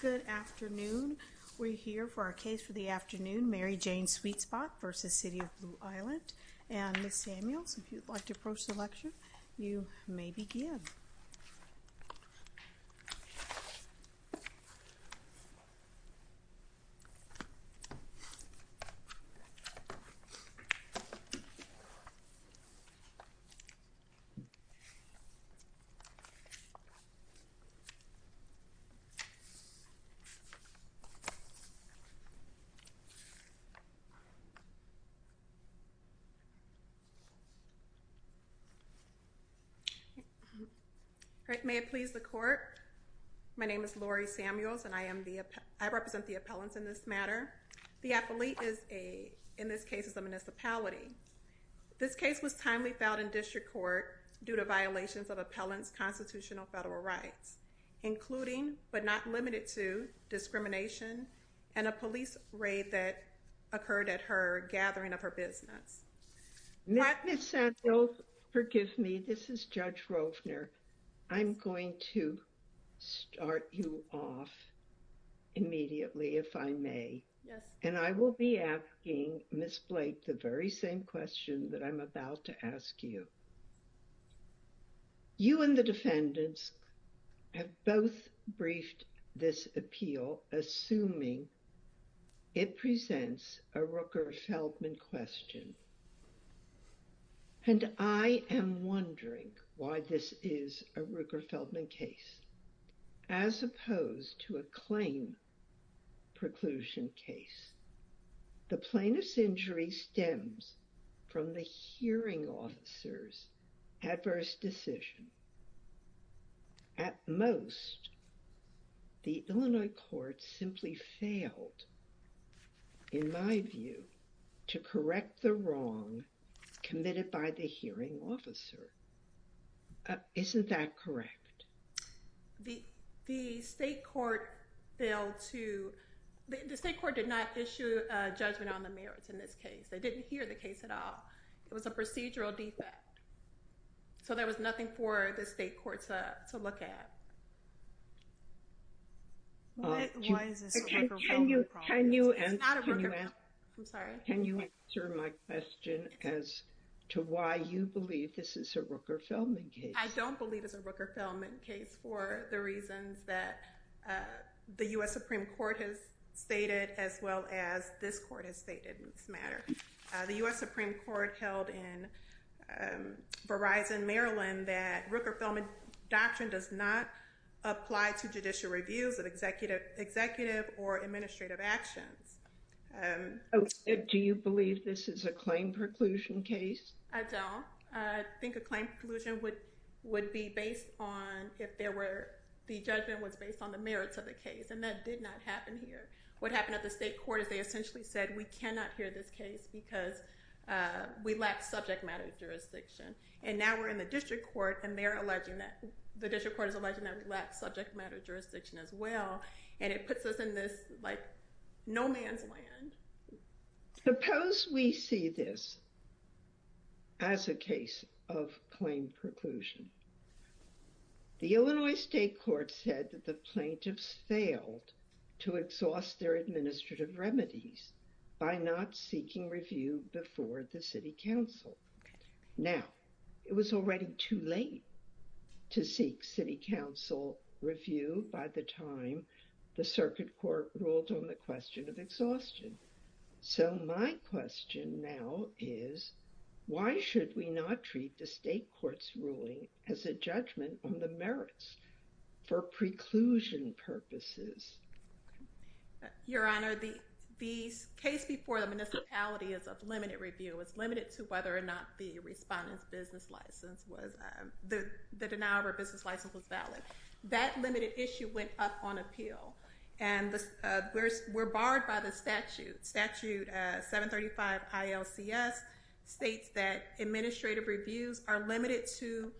Good afternoon. We're here for our case for the afternoon, Mary Jane Sweet Spot v. City of Blue Island. And Ms. Samuels, if you'd like to approach the lecture, you may begin. All right, may it please the court. My name is Lori Samuels, and I represent the appellants in this matter. The appellate is a, in this case, is a municipality. This case was timely filed in district court due to violations of appellant's constitutional federal rights, including but not limited to discrimination and a police raid that occurred at her gathering of her business. Ms. Samuels, forgive me, this is Judge Rovner. I'm going to start you off immediately, if I may. Yes. And I will be asking Ms. Blake the very same question that I'm about to ask you. You and the defendants have both briefed this appeal, assuming it presents a Rooker-Feldman question. And I am wondering why this is a Rooker-Feldman case, as opposed to a Plaintiff's Injury case. The Plaintiff's Injury stems from the hearing officer's adverse decision. At most, the Illinois court simply failed, in my view, to correct the wrong to, the state court did not issue a judgment on the merits in this case. They didn't hear the case at all. It was a procedural defect. So there was nothing for the state court to look at. Why is this a Rooker-Feldman case? It's not a Rooker-Feldman case. I'm sorry. Can you answer my question as to why you believe this is a Rooker-Feldman case? I don't believe it's a Rooker-Feldman case. The U.S. Supreme Court has stated, as well as this court has stated in this matter, the U.S. Supreme Court held in Verizon, Maryland, that Rooker-Feldman doctrine does not apply to judicial reviews of executive or administrative actions. Do you believe this is a claim preclusion case? I don't. I think a claim preclusion would be based on if there were, the judgment was based on the merits of the case, and that did not happen here. What happened at the state court is they essentially said, we cannot hear this case because we lack subject matter jurisdiction. And now we're in the district court, and they're alleging that, the district court is alleging that we lack subject matter jurisdiction as well, and it puts us in this, like, no man's land. Suppose we see this as a case of claim preclusion. The Illinois state court said that the plaintiffs failed to exhaust their administrative remedies by not seeking review before the city council. Now, it was already too late to seek city council review by the time the circuit court ruled on the question of exhaustion. So my question now is, why should we not treat the state court's ruling as a judgment on the merits for preclusion purposes? Your Honor, the case before the municipality is of limited review. It's limited to whether or not the respondent's business license was, the denial of her business license was valid. That limited issue went up on appeal, and we're barred by the statute, statute 735 ILCS, states that administrative reviews are limited to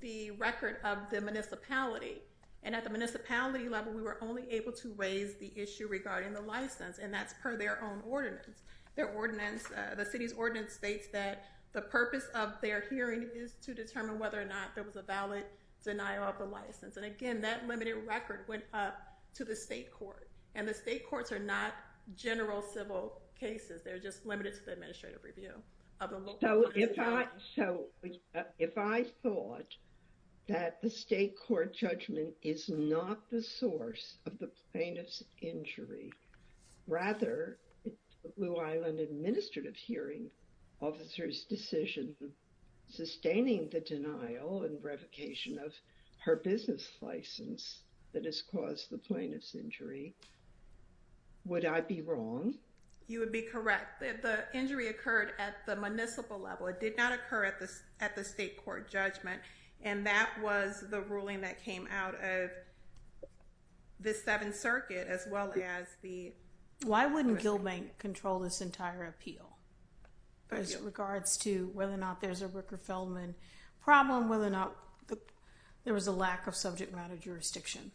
the record of the municipality. And at the municipality level, we were only able to raise the issue regarding the license, and that's per their own ordinance. Their ordinance, the city's ordinance states that the purpose of their hearing is to determine whether or not there was a valid denial of the license. And again, that limited record went up to the state court, and the state courts are not general civil cases. They're just limited to the administrative review. So if I, so if I thought that the state court judgment is not the source of the plaintiff's injury, rather the Blue Island administrative hearing officer's decision sustaining the denial and revocation of her business license that has the plaintiff's injury, would I be wrong? You would be correct. The injury occurred at the municipal level. It did not occur at the, at the state court judgment, and that was the ruling that came out of the Seventh Circuit as well as the... Why wouldn't Gilbank control this entire appeal as regards to whether or not there's a Ricker-Feldman problem, whether or not there was a lack of subject matter jurisdiction.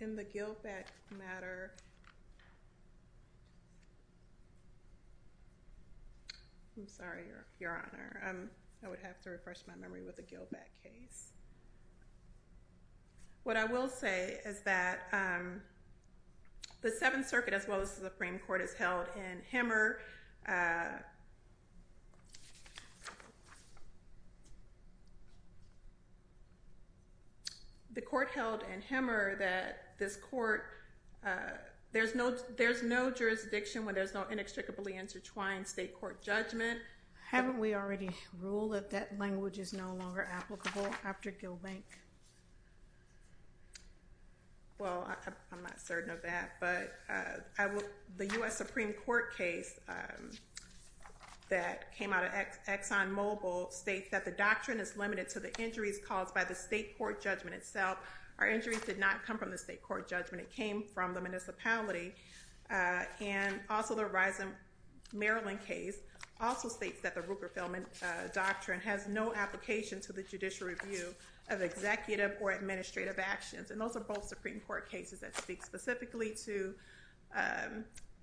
In the Gilbank matter... I'm sorry, Your Honor. I would have to refresh my memory with the Gilbank case. What I will say is that the Seventh Circuit as well as the Supreme Court has held in Hemmer, the court held in Hemmer that this court, there's no, there's no jurisdiction when there's no inextricably intertwined state court judgment. Haven't we already ruled that that language is no longer applicable after Gilbank? Well, I'm not certain of that, but I will, the U.S. Supreme Court case that came out of ExxonMobil states that the doctrine is limited to the injuries caused by the state court judgment itself. Our injuries did not come from the state court judgment. It came from the municipality. And also the Risen Maryland case also states that the Ricker-Feldman doctrine has no application to the judicial review of executive or administrative actions. And those are both Supreme Court cases that speak specifically to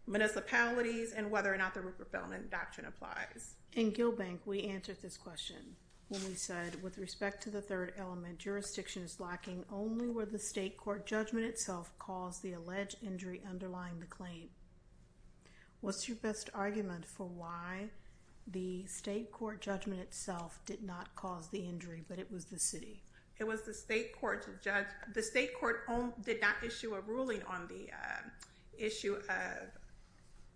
municipalities and whether or not the Ricker-Feldman doctrine applies. In Gilbank, we answered this question when we said, with respect to the third element, jurisdiction is lacking only where the state court judgment itself caused the alleged injury underlying the claim. What's your best argument for why the state court judgment itself did not cause the injury, but it was the city? It was the state court. The state court did not issue a ruling on the issue of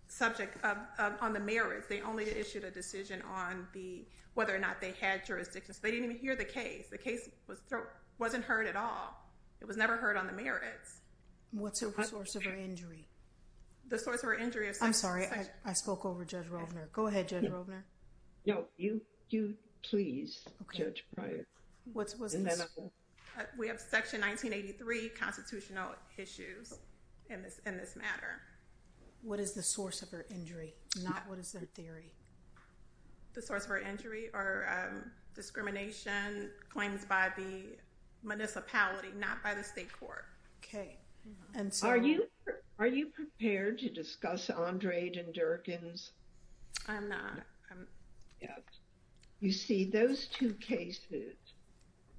subject, on the merits. They only issued a decision on whether or not they had jurisdiction. So they didn't even hear the case. The case wasn't heard at all. It was never heard on the merits. What's the source of her injury? The source of her injury is... I'm sorry, I spoke over Judge Rovner. Go ahead, Judge Rovner. No, you please, Judge Pryor. We have Section 1983 constitutional issues in this matter. What is the source of her injury, not what is their theory? The source of her injury are discrimination claims by the municipality, not by the state court. Okay, and so... Are you prepared to discuss Andrade and Durkin's? I'm not. Yes. You see, those two cases,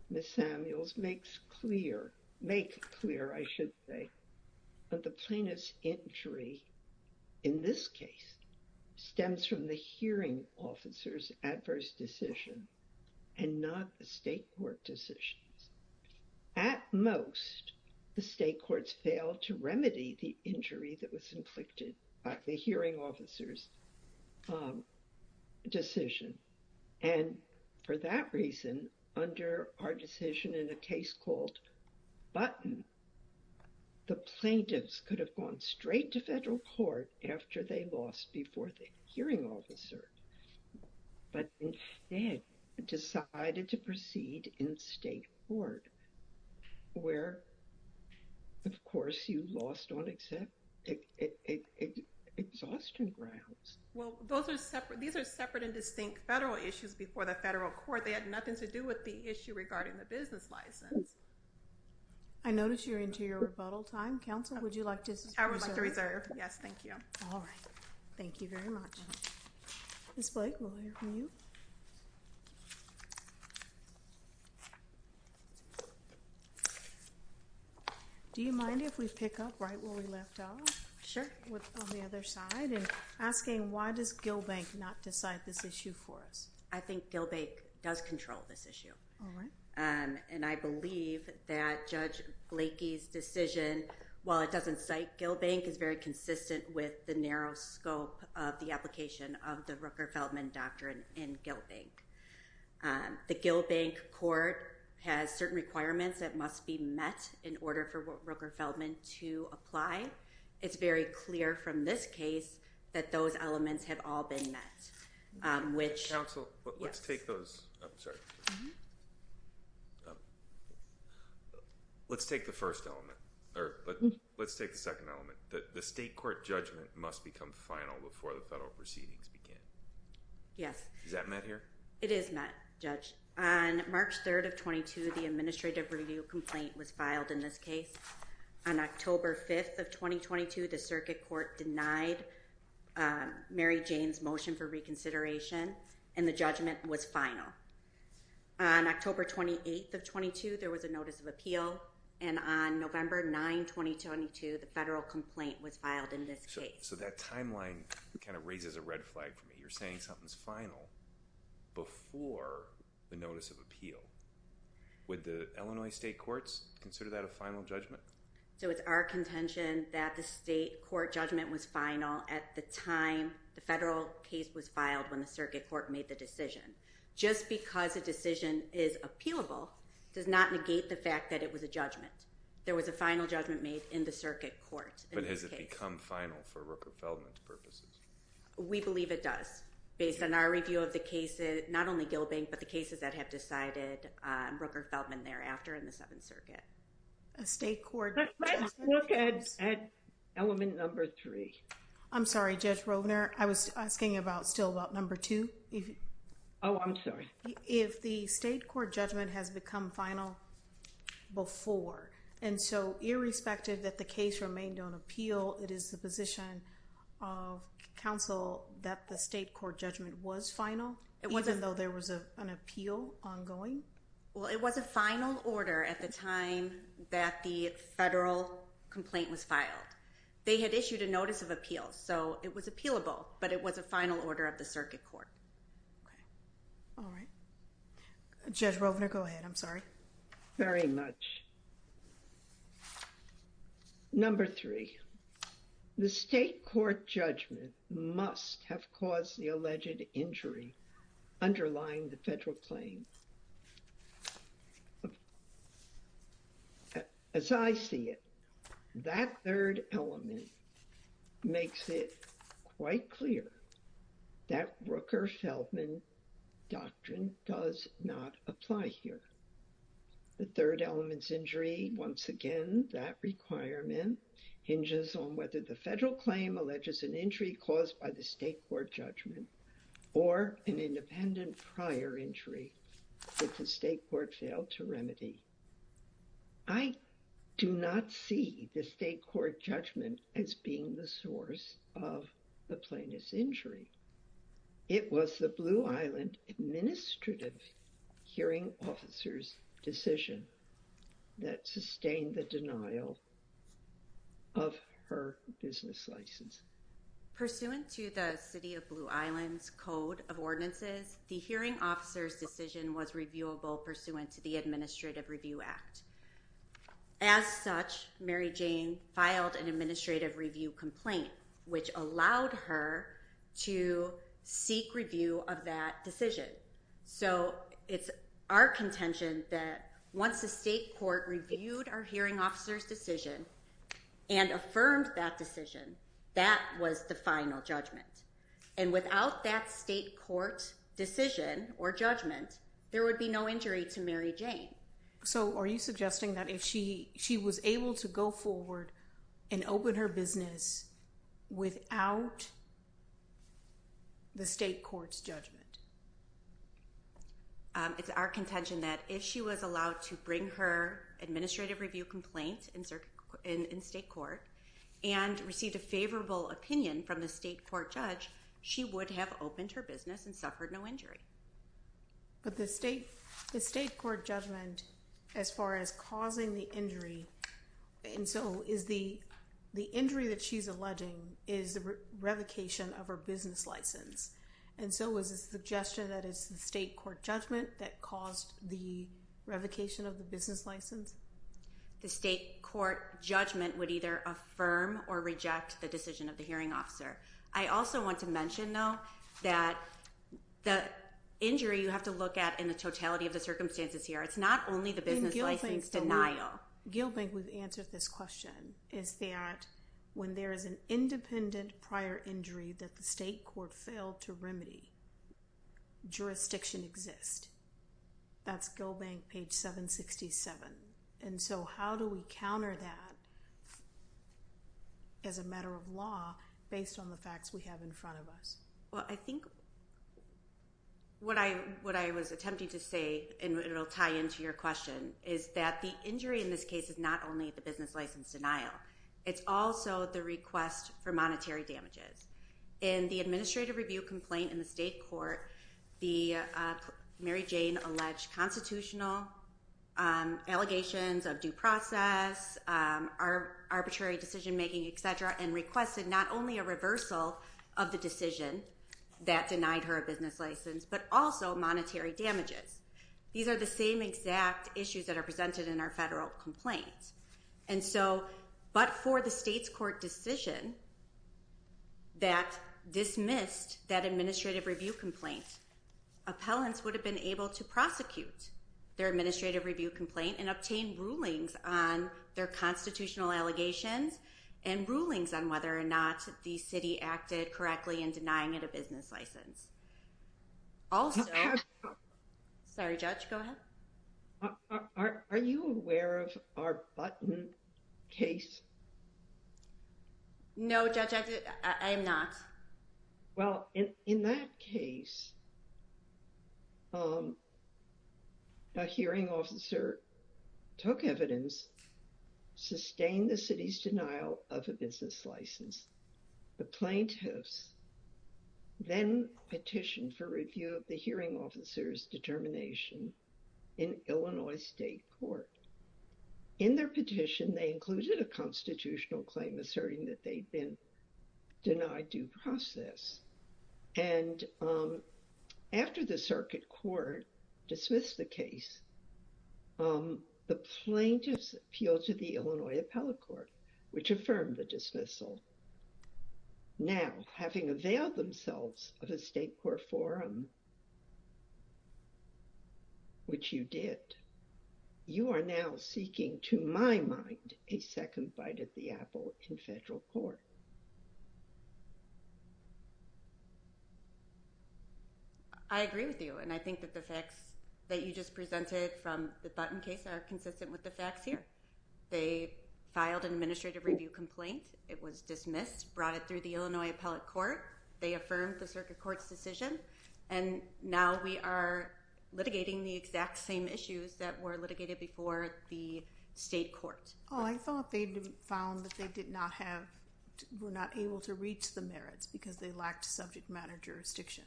Ms. Samuels, makes clear, make clear, I should say, that the plaintiff's injury in this case stems from the hearing officer's adverse decision and not the state court decision. At most, the state courts failed to remedy the injury that was inflicted by the hearing officer's decision. And for that reason, under our decision in a case called Button, the plaintiffs could have gone straight to federal court after they lost before the hearing officer, but instead decided to proceed in state court, where, of course, you lost on exhaustion grounds. Well, those are separate, these are separate and distinct federal issues before the federal court. They had nothing to do with the issue regarding the business license. I notice you're into your rebuttal time. Counsel, would you like to... I would like to reserve. Yes, thank you. All right. Thank you very much. Ms. Blake, we'll hear from you. Do you mind if we pick up right where we left off? Sure. On the other side, and asking why does Gill Bank not decide this issue for us? I think Gill Bank does control this issue. All right. And I believe that Judge Blakey's decision, while it doesn't cite Gill Bank, is very consistent with the narrow scope of the application of the Rooker-Feldman doctrine in Gill Bank. The Gill Bank court has certain requirements that must be met in order for Rooker-Feldman to apply. It's very clear from this case that those elements have all been met, which... Counsel, let's take the first element, or let's take the second element. The state court judgment must become final before the federal proceedings begin. Yes. Is that met here? It is met, Judge. On March 3rd of 22, the administrative review complaint was filed in this case. On October 5th of 2022, the circuit court denied Mary Jane's motion for reconsideration, and the judgment was final. On October 28th of 22, there was a notice of appeal, and on November 9, 2022, the federal complaint was filed in this case. So that timeline kind of raises a red flag for me. You're saying something's final before the notice of appeal. Would the Illinois state courts consider that a final judgment? So it's our contention that the state court judgment was final at the time the federal case was filed when the circuit court made the decision. Just because a decision is appealable does not negate the fact that it was a judgment. There was a final judgment made in the circuit court. But has it become final for Rooker-Feldman purposes? We believe it does, based on our review of the cases, not only Gill Bank, but the cases that have decided Rooker-Feldman thereafter in the Seventh Circuit. A state court... Let's look at element number three. I'm sorry, Judge Rovner. I was asking about still about number two. Oh, I'm sorry. If the state court judgment has become final before, and so irrespective that the case remained on appeal, it is the position of counsel that the state court judgment was final, even though there was an appeal ongoing? Well, it was a final order at the time that the federal complaint was filed. They had issued a notice of appeal, so it was appealable, but it was a final order of the circuit court. Okay. All right. Judge Rovner, go ahead. I'm sorry. Very much. Number three, the state court judgment must have caused the alleged injury underlying the federal claim. As I see it, that third element makes it quite clear that Rooker-Feldman doctrine does not apply here. The third element's injury, once again, that requirement hinges on whether the federal claim alleges an injury caused by the state court judgment or an independent prior injury that the state court failed to remedy. I do not see the state court judgment as being the source of the plaintiff's injury. It was the Blue Island administrative hearing officer's decision that sustained the denial of her business license. Pursuant to the city of Blue Island's code of ordinances, the hearing officer's decision was reviewable pursuant to the Administrative Review Complaint, which allowed her to seek review of that decision. So it's our contention that once the state court reviewed our hearing officer's decision and affirmed that decision, that was the final judgment. And without that state court decision or judgment, there would be no injury to Mary Jane. So are you suggesting that if she was able to go forward and open her business without the state court's judgment? It's our contention that if she was allowed to bring her Administrative Review Complaint in state court and received a favorable opinion from the state court judge, she would have opened her business and suffered no injury. But the state court judgment as far as causing the injury, and so is the injury that she's alleging is the revocation of her business license. And so is the suggestion that it's the state court judgment that caused the revocation of the business license? The state court judgment would either affirm or reject the decision of the hearing officer. I also want to mention, though, that the injury you have to look at in the totality of the circumstances here, it's not only the business license denial. Gill Bank, we've answered this question, is that when there is an independent prior injury that the state court failed to remedy, jurisdiction exists. That's Gill Bank, page 767. And so how do we counter that as a matter of law based on the facts we have in front of us? Well, I think what I was attempting to say, and it'll tie into your question, is that the injury in this case is not only the business license denial, it's also the request for monetary damages. In the Administrative Review Complaint in the state court, Mary Jane alleged constitutional allegations of due process, arbitrary decision making, et cetera, and requested not only a reversal of the decision that denied her a business license, but also monetary damages. These are the same exact issues that are presented in our federal complaints. But for the state's court decision that dismissed that Administrative Review Complaint, appellants would have been able to prosecute their Administrative Review Complaint and obtain rulings on their constitutional allegations and rulings on whether or not the city acted correctly in denying it a business license. Also, sorry, Judge, go ahead. Are you aware of our Button case? No, Judge, I am not. Well, in that case, a hearing officer took evidence, sustained the city's denial of a business license. The plaintiffs then petitioned for review of the hearing officer's determination in Illinois State Court. In their petition, they included a constitutional claim asserting that they'd been denied due process. And after the circuit court dismissed the case, the plaintiffs appealed to the Illinois Appellate Court, which affirmed the dismissal. Now, having availed themselves of a state court forum, which you did, you are now seeking, to my mind, a second bite at the apple in federal court. I agree with you. And I think that the facts that you just presented from the Button case are consistent with the facts here. They filed an Administrative Review Complaint. It was dismissed, brought it through the Illinois Appellate Court. They affirmed the circuit court's decision. And now we are litigating the exact same issues that were litigated before the state court. Oh, I thought they'd found that they were not able to reach the merits because they lacked subject matter jurisdiction.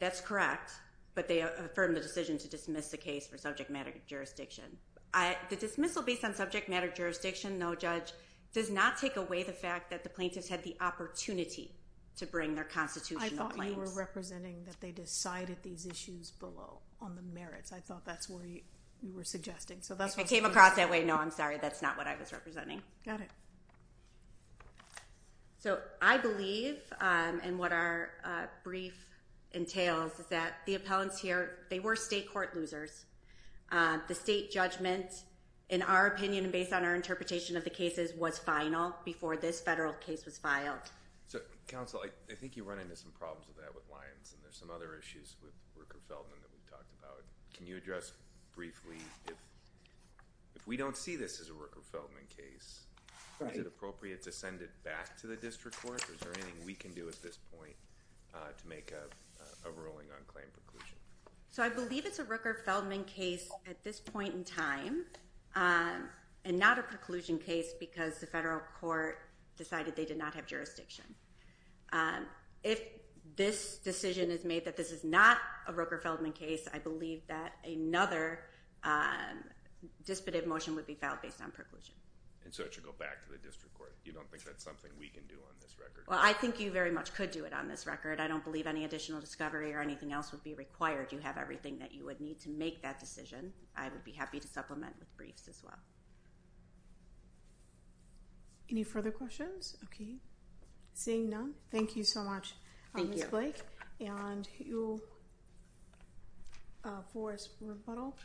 That's correct. But they affirmed the decision to dismiss the case for subject matter jurisdiction. The dismissal based on subject matter jurisdiction, though, Judge, does not take away the fact that the plaintiffs had the opportunity to bring their constitutional claims. I thought you were representing that they decided these issues below on the merits. I thought that's what you were suggesting. I came across that way. No, I'm sorry. That's not what I was representing. Got it. So I believe, and what our brief entails, is that the appellants here, they were state court losers. The state judgment, in our opinion and based on our interpretation of the cases, was final before this federal case was filed. So, counsel, I think you run into some problems with that with Lyons, and there's some other issues with Rooker-Feldman that we've talked about. Can you address briefly if we don't see this as a Rooker-Feldman case, is it appropriate to send it back to the district court? Is there anything we can do at this point to make a ruling on claim preclusion? So I believe it's a Rooker-Feldman case at this point in time, and not a preclusion case because the federal court decided they did not have jurisdiction. If this decision is made that this is not a Rooker-Feldman case, I believe that another disputive motion would be filed based on preclusion. And so it should go back to the district court. You don't think that's something we can do on this record? Well, I think you very much could do it on this record. I don't believe any additional discovery or anything else would be required. You have everything that you would need to make that decision. I would be happy to supplement with briefs as well. Any further questions? Okay, seeing none. Thank you so much, Ms. Blake. And you'll force rebuttal,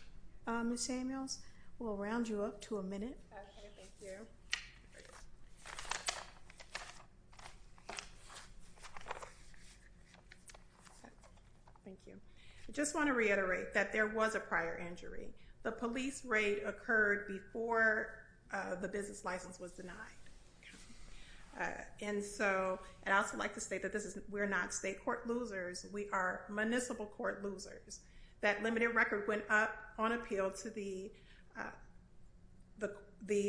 Ms. Samuels. We'll round you up to a minute. Thank you. Thank you. I just want to reiterate that there was a prior injury. The police raid occurred before the business license was denied. And so I'd also like to state that we're not state court losers. We are municipal court losers. That limited record went up on appeal to the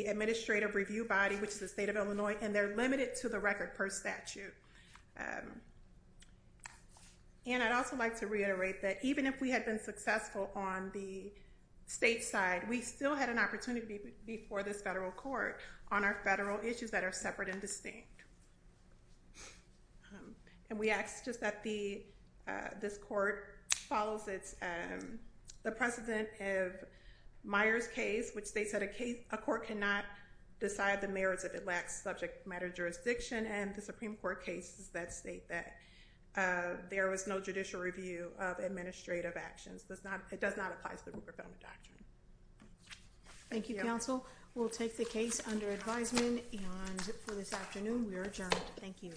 administrative review body, which is the state of Illinois, and they're limited to the record per statute. And I'd also like to reiterate that even if we had been successful on the state side, we still had an opportunity before this federal court on our federal issues that are separate and distinct. And we ask just that this court follows the precedent of Meyer's case, which states that a court cannot decide the merits if it lacks subject matter jurisdiction, and the Supreme Court cases that state that there was no judicial review of administrative actions. It does not apply to the Rupert Feldman Doctrine. Thank you, counsel. We'll take the case under advisement, and for this afternoon we are adjourned. Thank you.